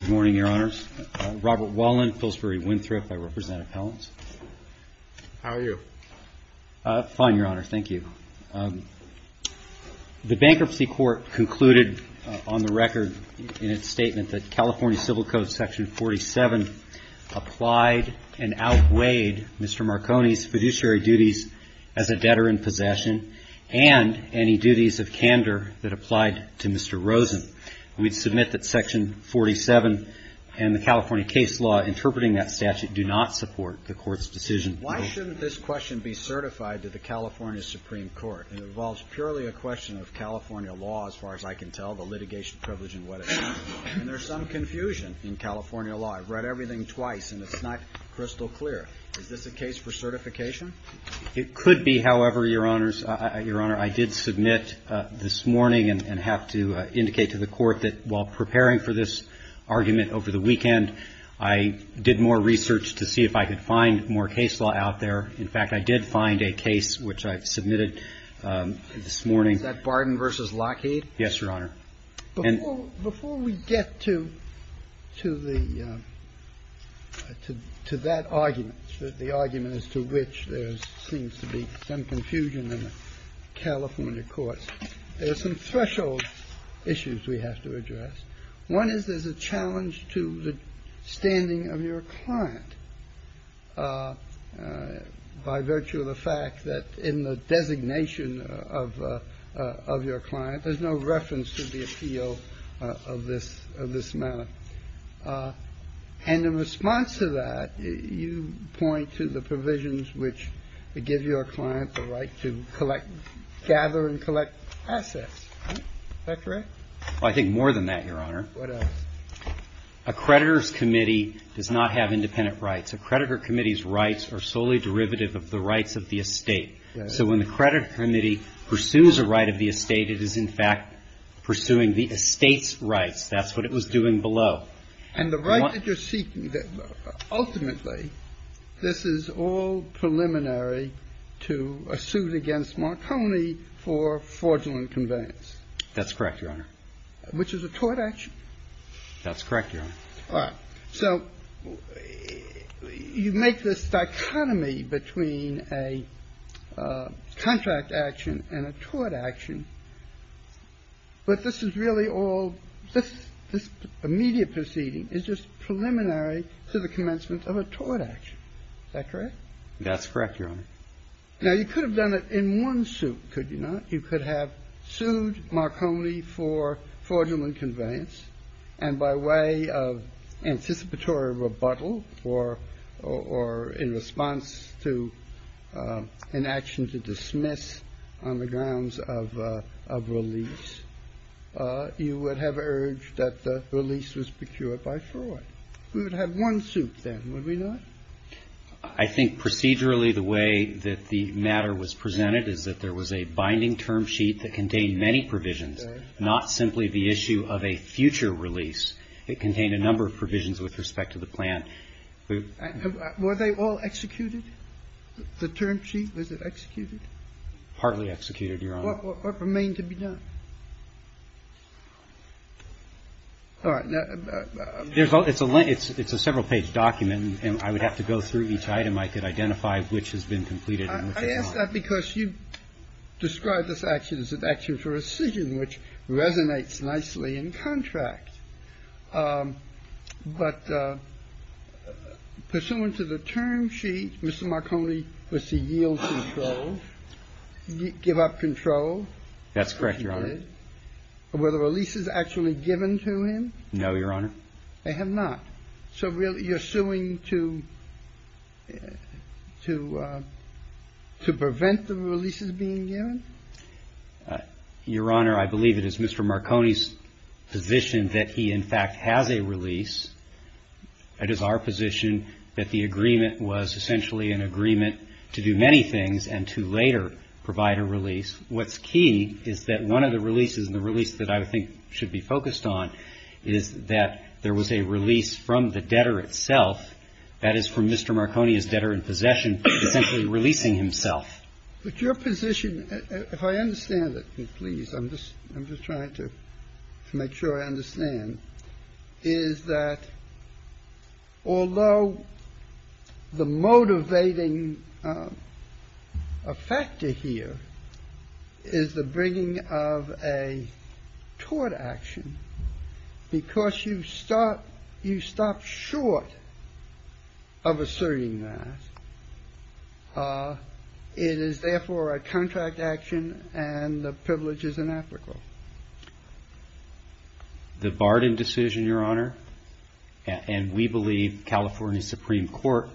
Good morning, Your Honors. Robert Wallin, Pillsbury Winthrop. I represent appellants. How are you? Fine, Your Honor. Thank you. The Bankruptcy Court concluded on the record in its statement that California Civil Code Section 47 applied and outweighed Mr. Marconi's fiduciary duties as a debtor in possession and any duties of candor that applied to Mr. Rosen. We submit that Section 47 and the California case law interpreting that statute do not support the Court's decision. Why shouldn't this question be certified to the California Supreme Court? It involves purely a question of California law as far as I can tell, the litigation privilege and what it means. And there's some confusion in California law. I've read everything twice and it's not crystal clear. Is this a case for certification? It could be, however, Your Honors. Your Honor, I did submit this morning and have to indicate to the Court that while preparing for this argument over the weekend, I did more research to see if I could find more case law out there. In fact, I did find a case which I've submitted this morning. Is that Barden v. Lockheed? Yes, Your Honor. Before we get to that argument, the argument as to which there seems to be some confusion in the California courts, there are some threshold issues we have to address. One is there's a challenge to the standing of your client by virtue of the fact that in the designation of your client, there's no reference to the appeal of this manner. And in response to that, you point to the provisions which give your client the right to collect gather and collect assets. Is that correct? Well, I think more than that, Your Honor. What else? A creditor's committee does not have independent rights. A creditor committee's rights are solely derivative of the rights of the estate. So when the creditor committee pursues a right of the estate, it is, in fact, pursuing the estate's rights. That's what it was doing below. And the right that you're seeking, ultimately, this is all preliminary to a suit against Marconi for fraudulent conveyance. That's correct, Your Honor. Which is a tort action. That's correct, Your Honor. All right. So you make this dichotomy between a contract action and a tort action, but this is really all this immediate proceeding is just preliminary to the commencement of a tort action. Is that correct? That's correct, Your Honor. Now, you could have done it in one suit, could you not? You could have sued Marconi for fraudulent conveyance, and by way of anticipatory rebuttal or in response to an action to dismiss on the grounds of release, you would have urged that the release was procured by fraud. We would have one suit then, would we not? I think procedurally the way that the matter was presented is that there was a binding term sheet that contained many provisions, not simply the issue of a future release. It contained a number of provisions with respect to the plan. Were they all executed, the term sheet? Was it executed? Partly executed, Your Honor. What remained to be done? All right. It's a several-page document, and I would have to go through each item. I could identify which has been completed and which has not. I ask that because you describe this action as an action for rescission, which resonates nicely in contract. But pursuant to the term sheet, Mr. Marconi was to yield control, give up control. That's correct, Your Honor. Were the releases actually given to him? No, Your Honor. They have not. So you're suing to prevent the releases being given? Your Honor, I believe it is Mr. Marconi's position that he in fact has a release. It is our position that the agreement was essentially an agreement to do many things and to later provide a release. What's key is that one of the releases, and the release that I think should be focused on, is that there was a release from the debtor itself, that is, from Mr. Marconi's debtor in possession, essentially releasing himself. But your position, if I understand it, please, I'm just trying to make sure I understand, is that although the motivating factor here is the bringing of a tort action, because you stop short of asserting that, it is therefore a contract action and the privilege is inapplicable. The Barden decision, Your Honor, and we believe California Supreme Court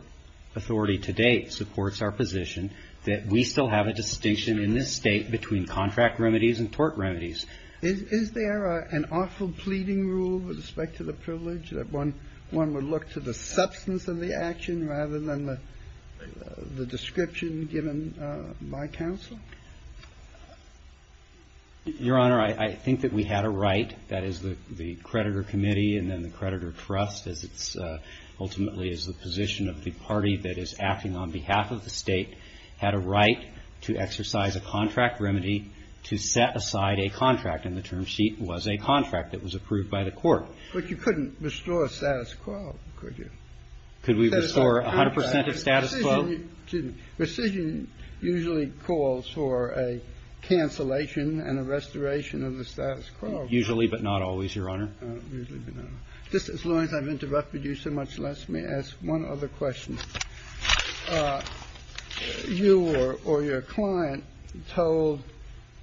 authority to date supports our position that we still have a distinction in this State between contract remedies and tort remedies. Is there an awful pleading rule with respect to the privilege that one would look to the substance of the action rather than the description given by counsel? Your Honor, I think that we had a right, that is, the creditor committee and then the creditor trust, as it's ultimately is the position of the party that is acting on behalf of the State, had a right to exercise a contract remedy to set aside a contract, and the term sheet was a contract that was approved by the Court. But you couldn't restore status quo, could you? Could we restore 100 percent of status quo? The decision usually calls for a cancellation and a restoration of the status quo. Usually, but not always, Your Honor. Usually, but not always. Just as long as I've interrupted you so much, let me ask one other question. You or your client told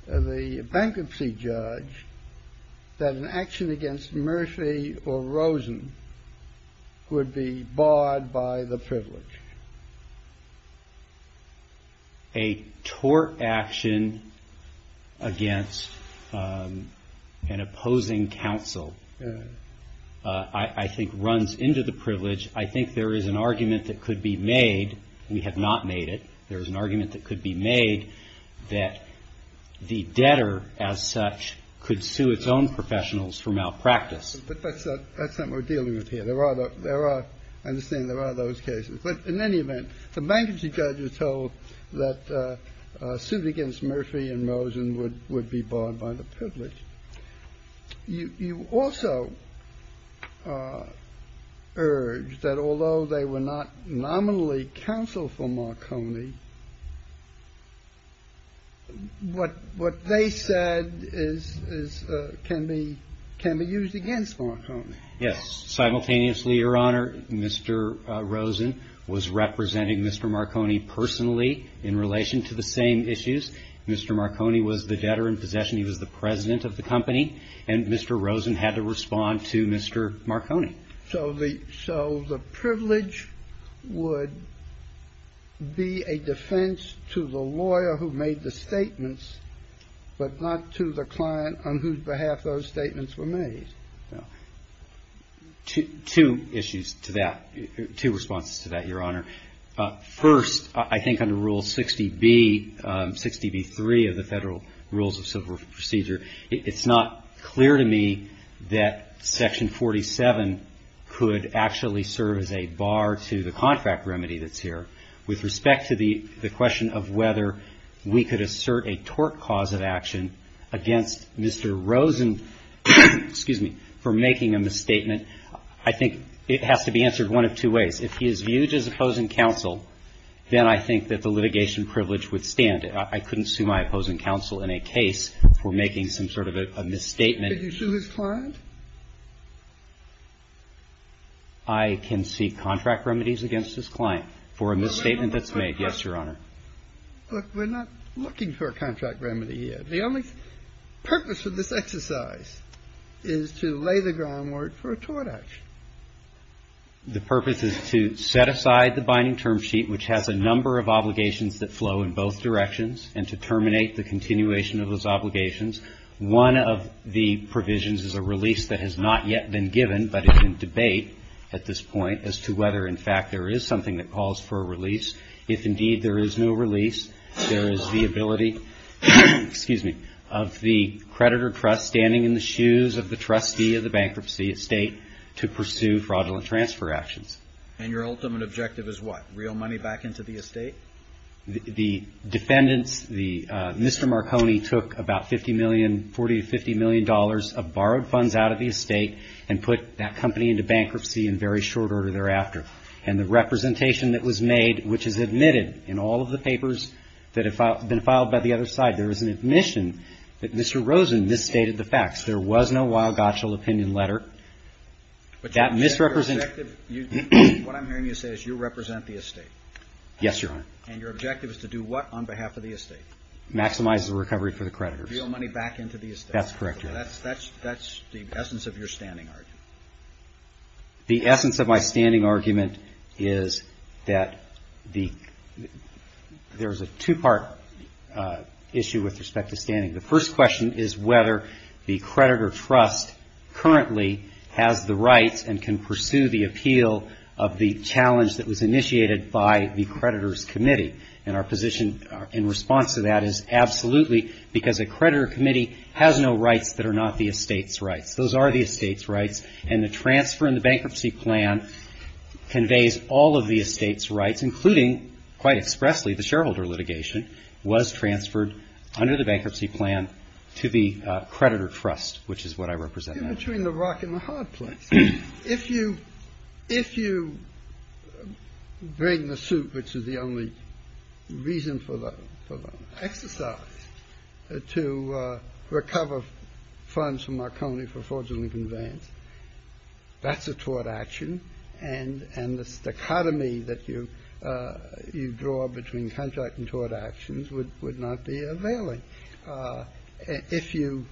the bankruptcy judge that an action against Murphy or Rosen would be barred by the privilege. A tort action against an opposing counsel, I think, runs into the privilege. I think there is an argument that could be made. We have not made it. There is an argument that could be made that the debtor, as such, could sue its own professionals for malpractice. But that's not what we're dealing with here. There are those cases. But in any event, the bankruptcy judge was told that a suit against Murphy and Rosen would be barred by the privilege. You also urged that although they were not nominally counsel for Marconi, what they said is can be used against Marconi. Yes. Simultaneously, Your Honor, Mr. Rosen was representing Mr. Marconi personally in relation to the same issues. Mr. Marconi was the debtor in possession. He was the president of the company. And Mr. Rosen had to respond to Mr. Marconi. So the privilege would be a defense to the lawyer who made the statements, but not to the client on whose behalf those statements were made. Two issues to that, two responses to that, Your Honor. First, I think under Rule 60B, 60B-3 of the Federal Rules of Civil Procedure, it's not clear to me that Section 47 could actually serve as a bar to the contract remedy that's here with respect to the question of whether we could assert a tort cause of action against Mr. Rosen, excuse me, for making a misstatement. I think it has to be answered one of two ways. If he is viewed as opposing counsel, then I think that the litigation privilege would stand. I couldn't sue my opposing counsel in a case for making some sort of a misstatement. Did you sue his client? I can seek contract remedies against his client for a misstatement that's made. Yes, Your Honor. Look, we're not looking for a contract remedy yet. The only purpose of this exercise is to lay the groundwork for a tort action. The purpose is to set aside the binding term sheet, which has a number of obligations that flow in both directions, and to terminate the continuation of those obligations. One of the provisions is a release that has not yet been given, but is in debate at this point as to whether, in fact, there is something that calls for a release. If, indeed, there is no release, there is the ability, excuse me, of the creditor trust standing in the shoes of the trustee of the bankruptcy estate to pursue fraudulent transfer actions. And your ultimate objective is what? Reel money back into the estate? The defendants, Mr. Marconi, took about $50 million, $40 to $50 million of borrowed funds out of the estate and put that company into bankruptcy in very short order thereafter. And the representation that was made, which is admitted in all of the papers that have been filed by the other side, there is an admission that Mr. Rosen misstated the facts. There was no wild-gotcha opinion letter. But that misrepresentation What I'm hearing you say is you represent the estate. Yes, Your Honor. And your objective is to do what on behalf of the estate? Maximize the recovery for the creditors. Reel money back into the estate. That's correct, Your Honor. That's the essence of your standing argument. The essence of my standing argument is that there's a two-part issue with respect to standing. The first question is whether the creditor trust currently has the rights and can pursue the appeal of the challenge that was initiated by the creditors' committee. And our position in response to that is absolutely because a creditor committee has no rights that are not the estate's rights. Those are the estate's rights. And the transfer in the bankruptcy plan conveys all of the estate's rights, including quite expressly the shareholder litigation was transferred under the bankruptcy plan to the creditor trust, which is what I represent. In between the rock and the hard place, if you bring the suit, which is the only reason for the exercise to recover funds from Marconi for fraudulent conveyance, that's a tort action. And the stichotomy that you draw between contract and tort actions would not be availing. If you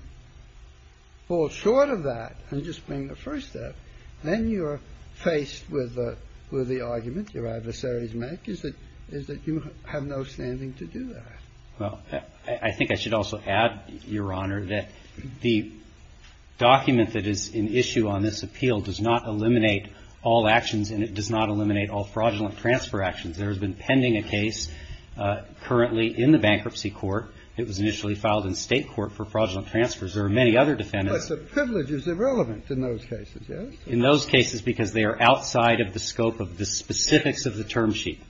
fall short of that and just bring the first step, then you're faced with the argument your adversaries make is that you have no standing to do that. Well, I think I should also add, Your Honor, that the document that is in issue on this appeal does not eliminate all actions and it does not eliminate all fraudulent transfer actions. There has been pending a case currently in the bankruptcy court. It was initially filed in State court for fraudulent transfers. There are many other defendants. But the privileges are relevant in those cases, yes? In those cases because they are outside of the scope of the specifics of the term sheet.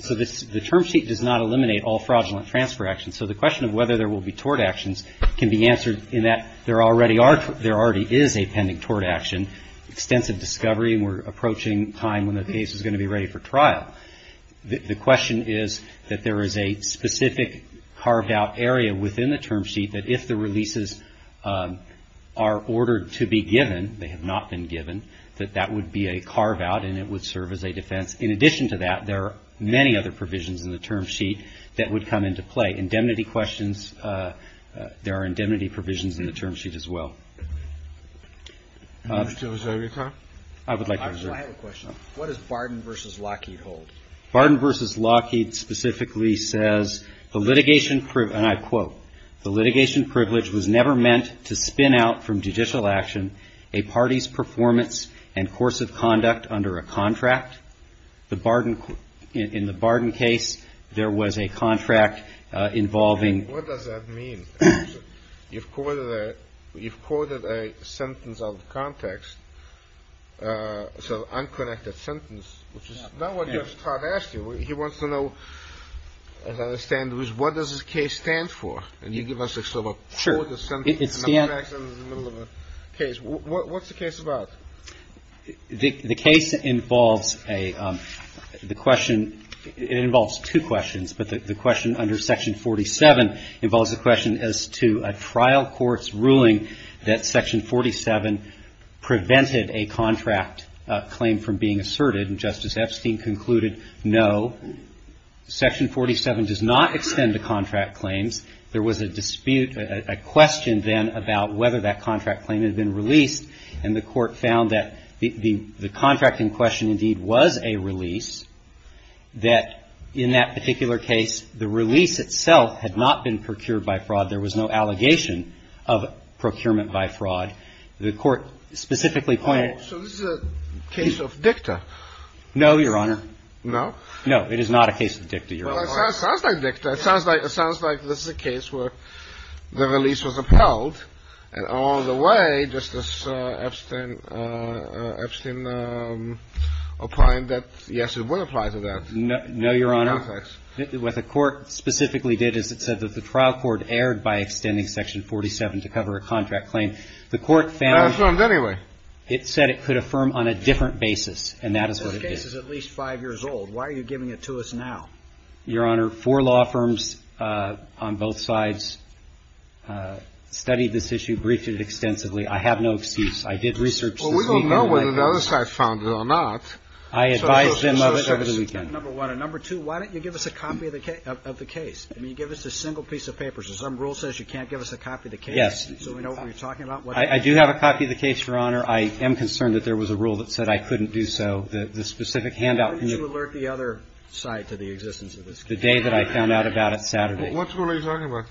So the term sheet does not eliminate all fraudulent transfer actions. So the question of whether there will be tort actions can be answered in that there already is a pending tort action, extensive discovery, and we're approaching time when the case is going to be ready for trial. The question is that there is a specific carved out area within the term sheet that if the would be a carve out and it would serve as a defense. In addition to that, there are many other provisions in the term sheet that would come into play. Indemnity questions, there are indemnity provisions in the term sheet as well. I would like to answer. I have a question. What does Barden v. Lockheed hold? Barden v. Lockheed specifically says, and I quote, the litigation privilege was never meant to spin out from judicial action a party's performance and course of conduct under a contract. In the Barden case, there was a contract involving. What does that mean? You've quoted a sentence out of context, so an unconnected sentence, which is not what your He wants to know, as I understand it, what does this case stand for? And you give us a quote, a sentence, an unconnected sentence in the middle of a case. What's the case about? The case involves a question. It involves two questions, but the question under Section 47 involves a question as to a trial court's ruling that Section 47 prevented a contract claim from being asserted. And Justice Epstein concluded, no, Section 47 does not extend to contract claims. There was a dispute, a question then about whether that contract claim had been released. And the Court found that the contract in question indeed was a release, that in that particular case, the release itself had not been procured by fraud. There was no allegation of procurement by fraud. The Court specifically pointed. So this is a case of dicta? No, Your Honor. No? No, it is not a case of dicta, Your Honor. Well, it sounds like dicta. It sounds like this is a case where the release was upheld, and all the way Justice Epstein applying that, yes, it would apply to that. No, Your Honor. In the context. What the Court specifically did is it said that the trial court erred by extending Section 47 to cover a contract claim. The Court found. The Court found anyway. It said it could affirm on a different basis, and that is what it did. This case is at least five years old. Why are you giving it to us now? Your Honor, four law firms on both sides studied this issue, briefed it extensively. I have no excuse. I did research this. Well, we don't know whether the other side found it or not. I advised them of it over the weekend. Number one. And number two, why don't you give us a copy of the case? I mean, give us a single piece of paper. So some rule says you can't give us a copy of the case. Yes. So we know what you're talking about. I do have a copy of the case, Your Honor. I am concerned that there was a rule that said I couldn't do so. The specific handout. Why didn't you alert the other side to the existence of this case? The day that I found out about it, Saturday. What's the rule you're talking about?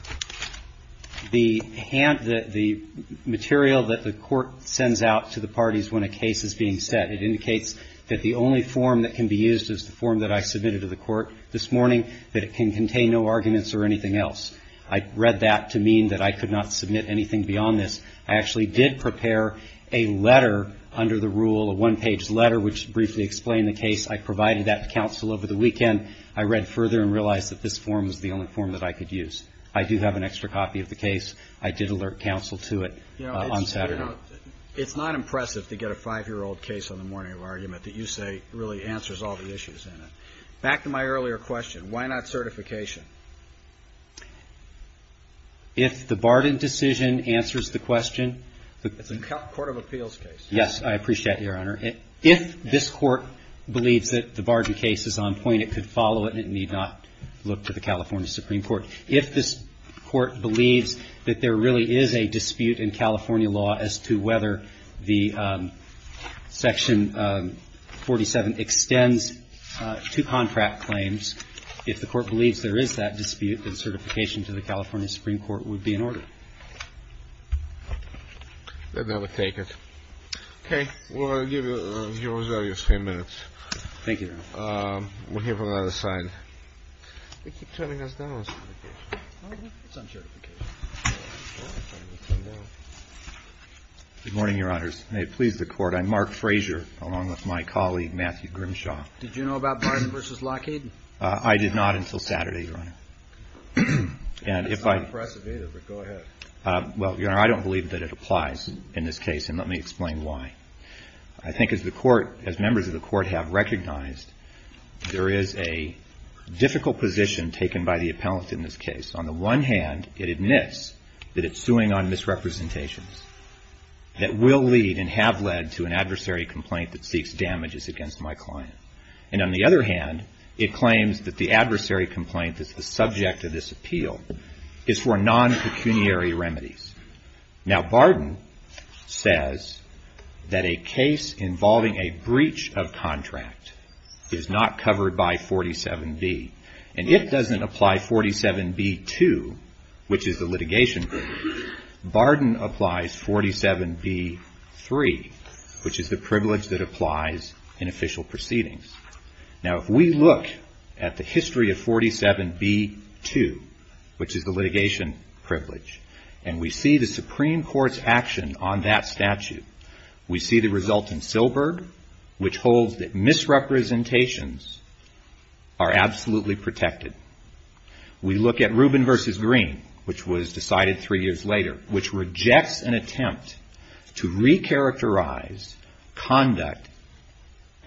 The material that the Court sends out to the parties when a case is being set. It indicates that the only form that can be used is the form that I submitted to the Court this morning, that it can contain no arguments or anything else. I read that to mean that I could not submit anything beyond this. I actually did prepare a letter under the rule, a one-page letter, which briefly explained the case. I provided that to counsel over the weekend. I read further and realized that this form was the only form that I could use. I do have an extra copy of the case. I did alert counsel to it on Saturday. You know, it's not impressive to get a five-year-old case on the morning of argument that you say really answers all the issues in it. Back to my earlier question. Why not certification? If the Barden decision answers the question. It's a court of appeals case. Yes. I appreciate it, Your Honor. If this Court believes that the Barden case is on point, it could follow it and it need not look to the California Supreme Court. If this Court believes that there really is a dispute in California law as to whether the Section 47 extends to contract claims, if the Court believes there is that dispute, then certification to the California Supreme Court would be in order. Then that would take it. Okay. We'll give you a few minutes. Thank you, Your Honor. We'll hear from the other side. They keep turning us down on certification. It's on certification. Good morning, Your Honors. May it please the Court. I'm Mark Frazier, along with my colleague, Matthew Grimshaw. Did you know about Barden v. Lockheed? I did not until Saturday, Your Honor. That's not impressive either, but go ahead. Well, Your Honor, I don't believe that it applies in this case, and let me explain why. I think as the Court, as members of the Court have recognized, there is a difficult position taken by the appellant in this case. On the one hand, it admits that it's suing on misrepresentations that will lead and have led to an adversary complaint that seeks damages against my client. And on the other hand, it claims that the adversary complaint that's the subject of this appeal is for non-pecuniary remedies. Now, Barden says that a case involving a breach of contract is not covered by 47B, and it doesn't apply 47B-2, which is the litigation Barden applies 47B-3, which is the privilege that applies in official proceedings. Now, if we look at the history of 47B-2, which is the litigation privilege, and we see the Supreme Court's action on that statute, we see the result in Silberg, which holds that misrepresentations are absolutely protected. We look at Rubin v. Green, which was decided three years later, which rejects an attempt to recharacterize conduct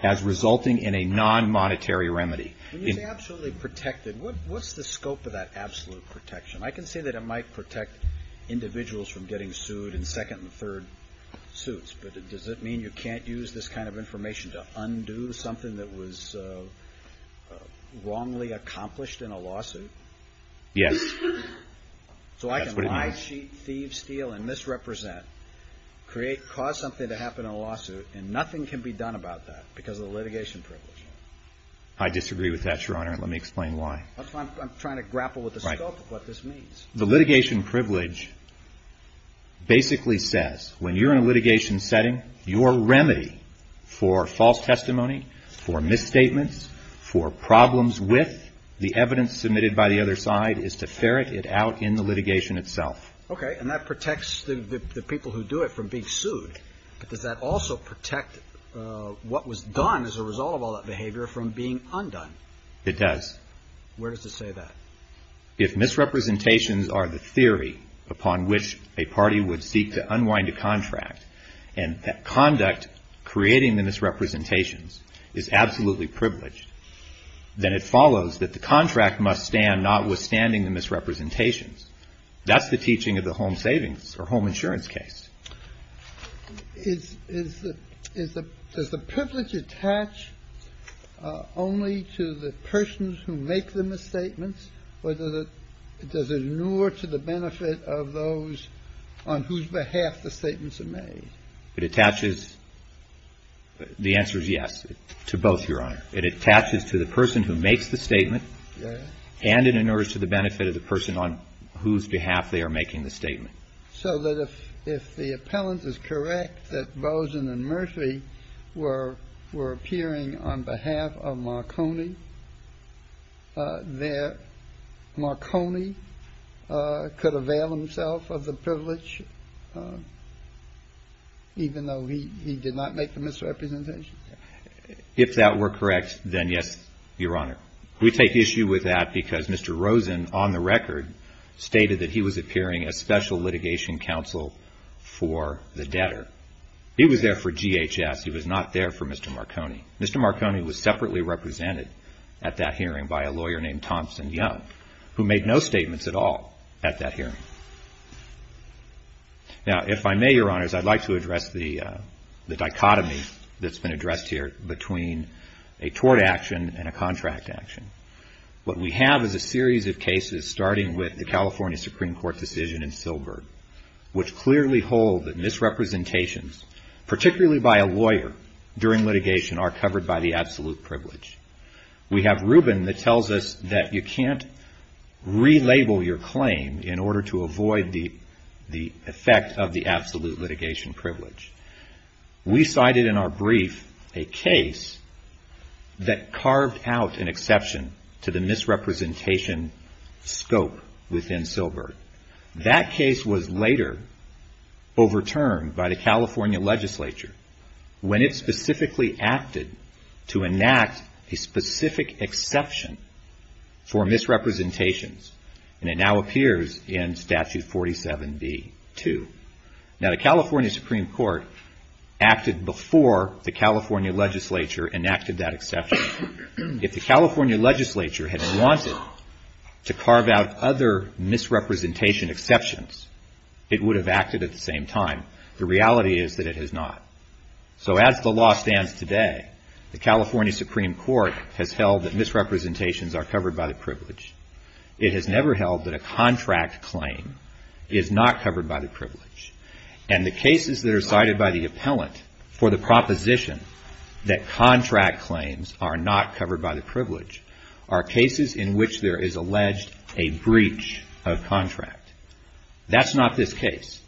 as resulting in a non-monetary remedy. When you say absolutely protected, what's the scope of that absolute protection? I can say that it might protect individuals from getting sued in second and third suits, but does it mean you can't use this kind of Yes. That's what it means. So I can lie, cheat, thieve, steal, and misrepresent, create, cause something to happen in a lawsuit, and nothing can be done about that because of the litigation privilege? I disagree with that, Your Honor, and let me explain why. I'm trying to grapple with the scope of what this means. The litigation privilege basically says when you're in a litigation setting, your remedy for false testimony, for misstatements, for problems with the evidence submitted by the other side is to ferret it out in the litigation itself. Okay. And that protects the people who do it from being sued, but does that also protect what was done as a result of all that behavior from being undone? It does. Where does it say that? If misrepresentations are the theory upon which a party would seek to unwind a contract, and that conduct creating the misrepresentations is absolutely privileged, then it follows that the contract must stand notwithstanding the misrepresentations. That's the teaching of the home savings or home insurance case. Is the privilege attached only to the persons who make the misstatements, or does it allure to the benefit of those on whose behalf the statements are made? It attaches. The answer is yes to both, Your Honor. It attaches to the person who makes the statement and it allures to the benefit of the person on whose behalf they are making the statement. So that if the appellant is correct that Bozen and Murphy were appearing on behalf of Marconi, that Marconi could avail himself of the privilege even though he did not make the misrepresentations? If that were correct, then yes, Your Honor. We take issue with that because Mr. Rosen on the record stated that he was appearing as special litigation counsel for the debtor. He was there for GHS. He was not there for Mr. Marconi. Mr. Marconi was separately represented at that hearing by a lawyer named Thompson Young, who made no statements at all at that hearing. Now, if I may, Your Honors, I'd like to address the dichotomy that's been addressed here between a tort action and a contract action. What we have is a series of cases starting with the California Supreme Court decision in Silbert, which clearly hold that misrepresentations, particularly by a lawyer during litigation, are covered by the absolute privilege. We have Rubin that tells us that you can't relabel your claim in order to avoid the effect of the absolute litigation privilege. We cited in our brief a case that carved out an exception to the misrepresentation scope within Silbert. That case was later overturned by the California legislature when it specifically acted to enact a specific exception for misrepresentations, and it now appears in Statute 47B-2. Now, the California Supreme Court acted before the California legislature enacted that exception. If the California legislature had wanted to carve out other misrepresentation exceptions, it would have acted at the same time. The reality is that it has not. So as the law stands today, the California Supreme Court has held that misrepresentations are covered by the privilege. It has never held that a contract claim is not covered by the privilege. And the cases that are cited by the appellant for the proposition that contract claims are not covered by the privilege are cases in which there is alleged a breach of contract. That's not this case.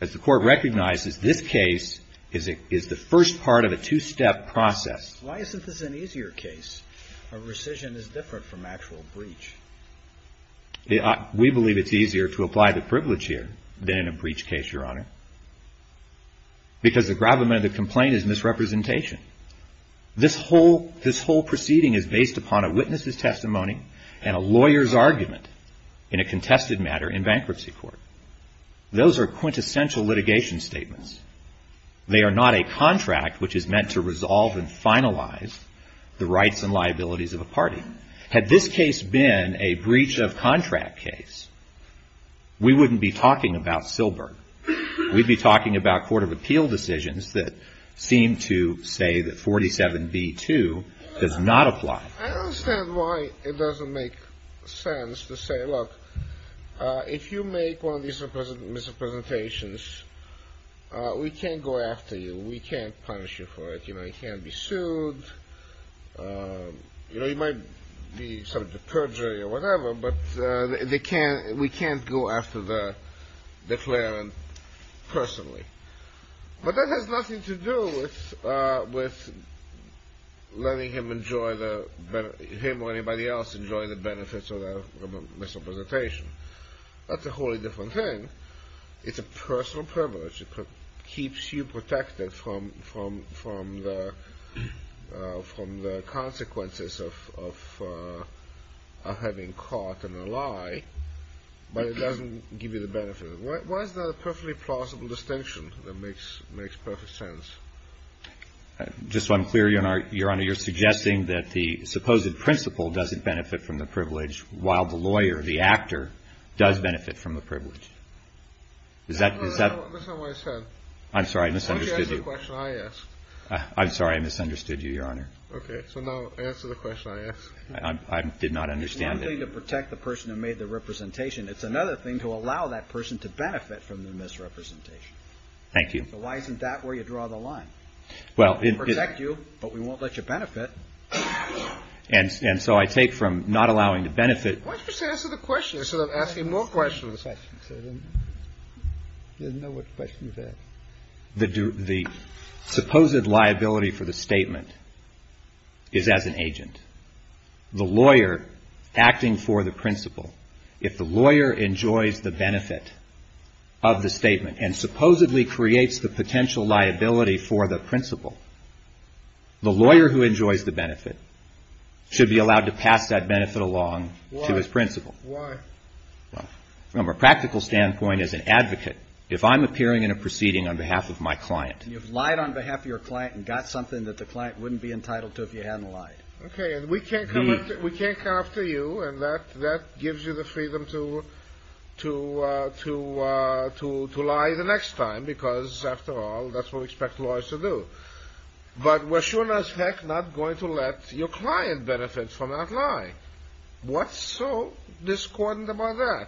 As the Court recognizes, this case is the first part of a two-step process. Why isn't this an easier case? A rescission is different from actual breach. We believe it's easier to apply the privilege here than in a breach case, Your Honor, because the gravamen of the complaint is misrepresentation. This whole proceeding is based upon a witness's testimony and a lawyer's argument in a contested matter in bankruptcy court. Those are quintessential litigation statements. They are not a contract which is meant to resolve and finalize the rights and liabilities of a party. Had this case been a breach of contract case, we wouldn't be talking about Silberg. We'd be talking about court of appeal decisions that seem to say that 47B-2 does not apply. I understand why it doesn't make sense to say, look, if you make one of these misrepresentations, we can't go after you. We can't punish you for it. You know, you can't be sued. You know, you might be subject to perjury or whatever, but we can't go after the declarant personally. But that has nothing to do with letting him or anybody else enjoy the benefits of the misrepresentation. That's a wholly different thing. It's a personal privilege. It keeps you protected from the consequences of having caught in a lie, but it doesn't give you the benefits. Why is that a perfectly plausible distinction that makes perfect sense? Just so I'm clear, Your Honor, you're suggesting that the supposed principle doesn't benefit from the privilege, while the lawyer, the actor, does benefit from the privilege. That's not what I said. I'm sorry, I misunderstood you. Okay, answer the question I asked. I'm sorry, I misunderstood you, Your Honor. Okay, so now answer the question I asked. I did not understand it. It's one thing to protect the person who made the representation. It's another thing to allow that person to benefit from the misrepresentation. Thank you. So why isn't that where you draw the line? We'll protect you, but we won't let you benefit. And so I take from not allowing to benefit. Why don't you just answer the question instead of asking more questions? I didn't know what question to ask. The supposed liability for the statement is as an agent. The lawyer acting for the principle, if the lawyer enjoys the benefit of the statement and supposedly creates the potential liability for the principle, the lawyer who enjoys the benefit should be allowed to pass that benefit along to his principle. Why? From a practical standpoint, as an advocate, if I'm appearing in a proceeding on behalf of my client. You've lied on behalf of your client and got something that the client wouldn't be entitled to if you hadn't lied. Okay, and we can't come after you, and that gives you the freedom to lie the next time, because, after all, that's what we expect lawyers to do. But we're sure as heck not going to let your client benefit from that lie. What's so discordant about that?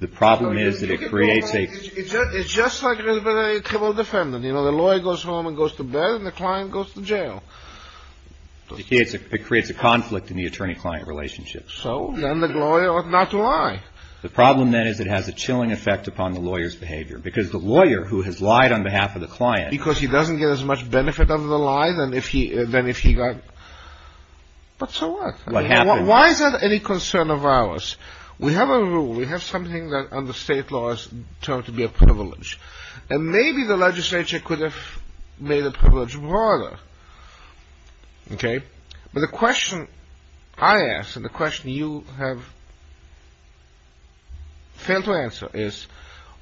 The problem is that it creates a... It's just like with a criminal defendant. The lawyer goes home and goes to bed, and the client goes to jail. It creates a conflict in the attorney-client relationship. So then the lawyer ought not to lie. The problem, then, is it has a chilling effect upon the lawyer's behavior, because the lawyer who has lied on behalf of the client... Because he doesn't get as much benefit out of the lie than if he got... But so what? Why is that any concern of ours? We have a rule. We have something that under state laws is termed to be a privilege. And maybe the legislature could have made the privilege broader. Okay? But the question I ask, and the question you have failed to answer is,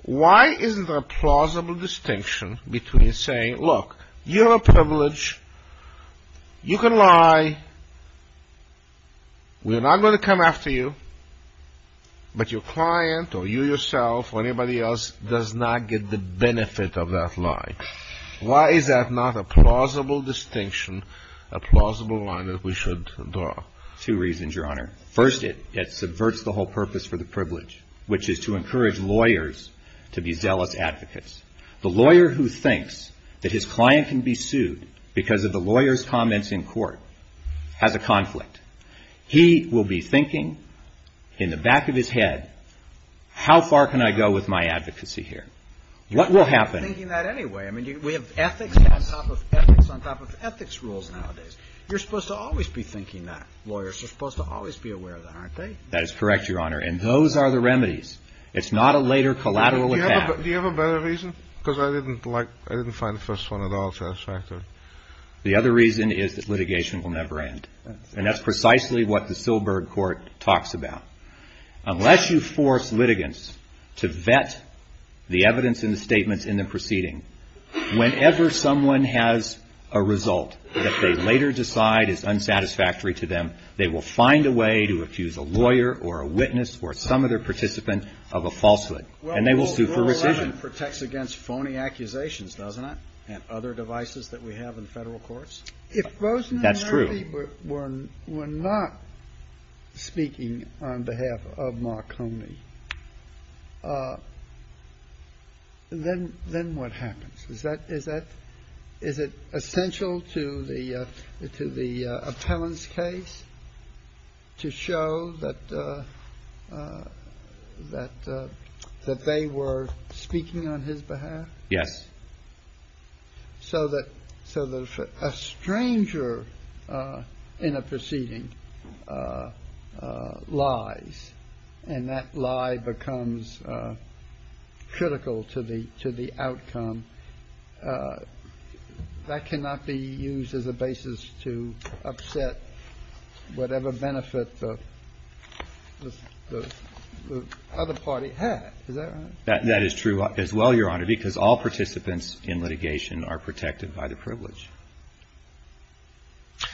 why is there a plausible distinction between saying, Look, you're a privilege. You can lie. We're not going to come after you. But your client, or you yourself, or anybody else does not get the benefit of that lie. Why is that not a plausible distinction, a plausible line that we should draw? Two reasons, Your Honor. First, it subverts the whole purpose for the privilege, which is to encourage lawyers to be zealous advocates. The lawyer who thinks that his client can be sued because of the lawyer's comments in court has a conflict. He will be thinking in the back of his head, How far can I go with my advocacy here? What will happen... I mean, we have ethics on top of ethics on top of ethics rules nowadays. You're supposed to always be thinking that. Lawyers are supposed to always be aware of that, aren't they? That is correct, Your Honor. And those are the remedies. It's not a later collateral attack. Do you have a better reason? Because I didn't like, I didn't find the first one at all satisfactory. The other reason is that litigation will never end. And that's precisely what the Silberg Court talks about. Unless you force litigants to vet the evidence in the statements in the proceeding, whenever someone has a result that they later decide is unsatisfactory to them, they will find a way to accuse a lawyer or a witness or some other participant of a falsehood. And they will sue for rescission. Well, Rule 11 protects against phony accusations, doesn't it? And other devices that we have in federal courts? That's true. If somebody were not speaking on behalf of Marconi, then what happens? Is it essential to the appellant's case to show that they were speaking on his behalf? Yes. So that a stranger in a proceeding lies, and that lie becomes critical to the outcome. That cannot be used as a basis to upset whatever benefit the other party had. Is that right? That is true as well, Your Honor, because all participants in litigation are protected by the privilege.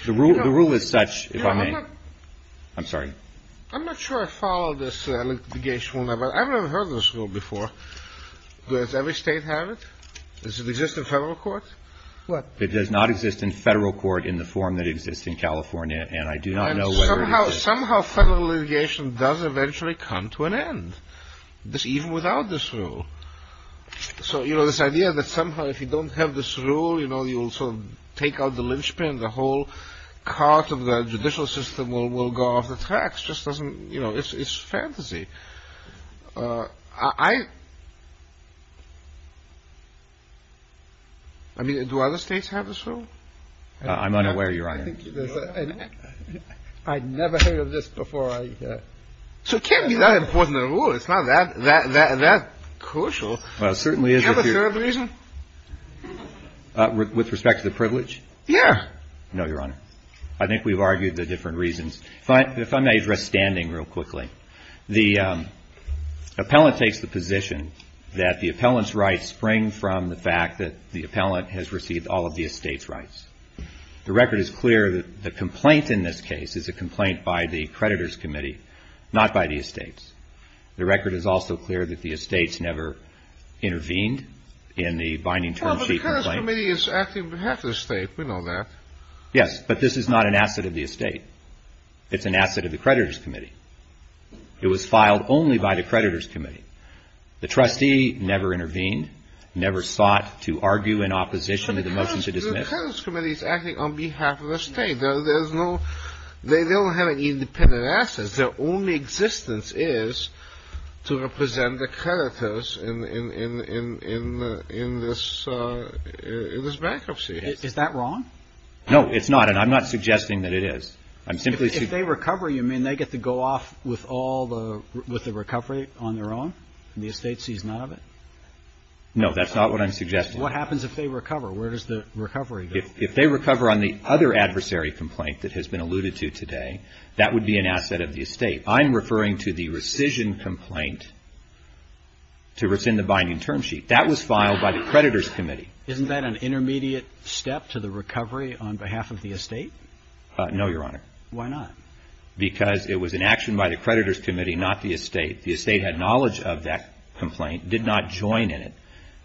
The rule is such, if I may. I'm sorry. I'm not sure I follow this litigation rule. I've never heard this rule before. Does every state have it? Does it exist in federal court? What? It does not exist in federal court in the form that exists in California. And I do not know whether it exists. And somehow federal litigation does eventually come to an end. Even without this rule. So, you know, this idea that somehow if you don't have this rule, you know, you'll sort of take out the lynchpin, the whole cart of the judicial system will go off the tracks just doesn't, you know, it's fantasy. I mean, do other states have this rule? I'm unaware, Your Honor. I'd never heard of this before. So it can't be that important a rule. It's not that crucial. Well, it certainly is. Do you have a third reason? With respect to the privilege? Yeah. No, Your Honor. I think we've argued the different reasons. If I may address standing real quickly. The appellant takes the position that the appellant's rights spring from the fact that the appellant has received all of the estate's rights. The record is clear that the complaint in this case is a complaint by the creditor's committee, not by the estates. The record is also clear that the estates never intervened in the binding term sheet complaint. Well, but the creditor's committee is acting on behalf of the estate. We know that. Yes. But this is not an asset of the estate. It's an asset of the creditor's committee. It was filed only by the creditor's committee. The trustee never intervened, never sought to argue in opposition to the motion to dismiss. The creditor's committee is acting on behalf of the estate. They don't have any independent assets. Their only existence is to represent the creditors in this bankruptcy. Is that wrong? No, it's not, and I'm not suggesting that it is. If they recover, you mean they get to go off with the recovery on their own and the estate sees none of it? No, that's not what I'm suggesting. What happens if they recover? Where does the recovery go? If they recover on the other adversary complaint that has been alluded to today, that would be an asset of the estate. I'm referring to the rescission complaint to rescind the binding term sheet. That was filed by the creditor's committee. Isn't that an intermediate step to the recovery on behalf of the estate? No, Your Honor. Why not? Because it was an action by the creditor's committee, not the estate. The estate had knowledge of that complaint, did not join in it,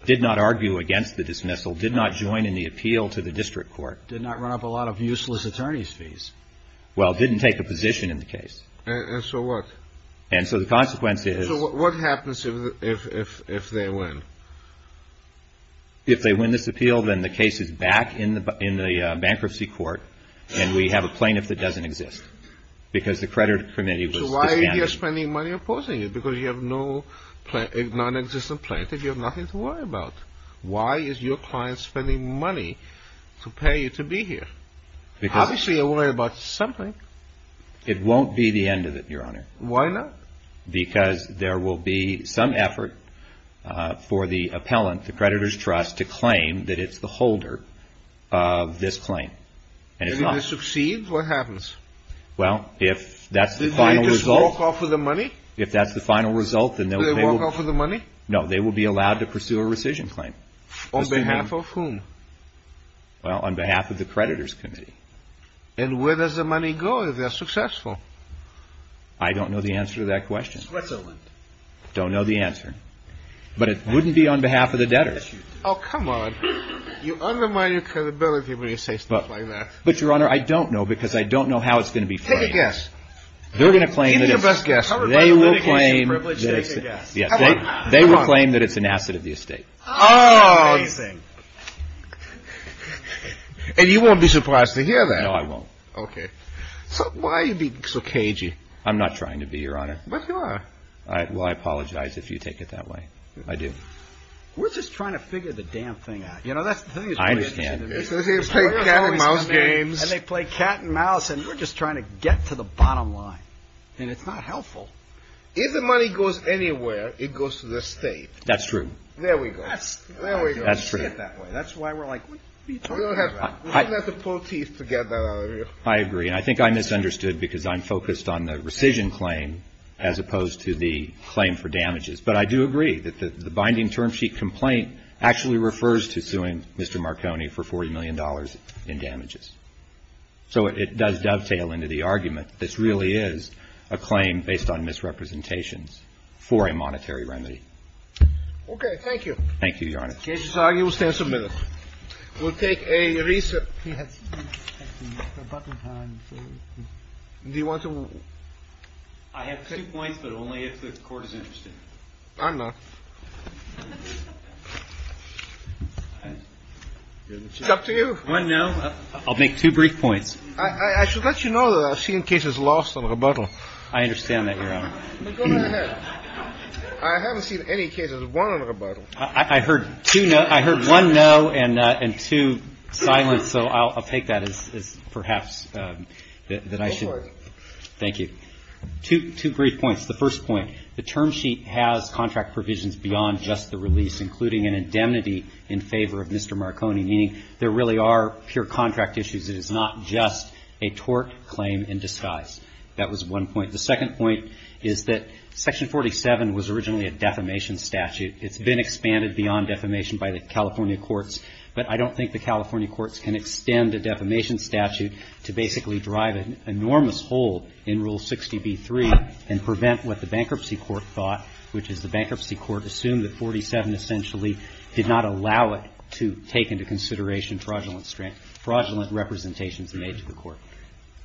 did not argue against the dismissal, did not join in the appeal to the district court. Did not run up a lot of useless attorney's fees. Well, it didn't take a position in the case. And so what? And so the consequence is... So what happens if they win? If they win this appeal, then the case is back in the bankruptcy court, and we have a plaintiff that doesn't exist, because the creditor's committee was disbanded. So why are you spending money opposing it? Because you have a nonexistent plaintiff you have nothing to worry about. Why is your client spending money to pay you to be here? Because... Obviously you're worried about something. It won't be the end of it, Your Honor. Why not? Because there will be some effort for the appellant, the creditor's trust, to claim that it's the holder of this claim. And if not... And if they succeed, what happens? Well, if that's the final result... Do they just walk off with the money? If that's the final result, then they will... Do they walk off with the money? No, they will be allowed to pursue a rescission claim. On behalf of whom? Well, on behalf of the creditor's committee. And where does the money go if they're successful? I don't know the answer to that question. Switzerland. Don't know the answer. But it wouldn't be on behalf of the debtors. Oh, come on. You undermine your credibility when you say stuff like that. But, Your Honor, I don't know, because I don't know how it's going to be claimed. Take a guess. They're going to claim that it's... Give us a guess. They will claim that it's an asset of the estate. Oh! Amazing. And you won't be surprised to hear that. No, I won't. Okay. So why are you being so cagey? I'm not trying to be, Your Honor. But you are. Well, I apologize if you take it that way. I do. We're just trying to figure the damn thing out. You know, that's the thing... I understand. They play cat and mouse games. And they play cat and mouse, and we're just trying to get to the bottom line. And it's not helpful. If the money goes anywhere, it goes to the estate. That's true. There we go. There we go. That's true. That's why we're like, what are you talking about? We're going to have to pull teeth to get that out of you. I agree. And I think I misunderstood because I'm focused on the rescission claim as opposed to the claim for damages. But I do agree that the binding term sheet complaint actually refers to suing Mr. Marconi for $40 million in damages. So it does dovetail into the argument that this really is a claim based on misrepresentations for a monetary remedy. Okay. Thank you. Thank you, Your Honor. The case is argued. We'll stand some minutes. We'll take a recess. Do you want to... I have two points, but only if the Court is interested. I'm not. It's up to you. One no. I'll make two brief points. I should let you know that I've seen cases lost on rebuttal. I understand that, Your Honor. Go ahead. I haven't seen any cases won on rebuttal. I heard two noes. I heard one no and two silence, so I'll take that as perhaps that I should... Go for it. Thank you. Two brief points. The first point. The term sheet has contract provisions beyond just the release, including an indemnity in favor of Mr. Marconi, meaning there really are pure contract issues. It is not just a tort claim in disguise. That was one point. The second point is that Section 47 was originally a defamation statute. It's been expanded beyond defamation by the California courts, but I don't think the California courts can extend a defamation statute to basically drive an enormous hole in Rule 60b-3 and prevent what the bankruptcy court thought, which is the bankruptcy court assumed that 47 essentially did not allow it to take into consideration fraudulent representations made to the court.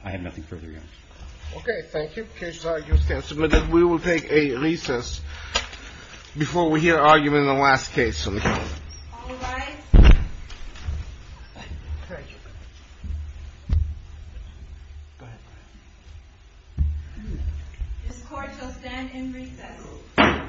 I have nothing further, Your Honor. Okay. Thank you. Case argued and submitted. We will take a recess before we hear argument in the last case. All rise. This Court shall stand in recess. Thank you.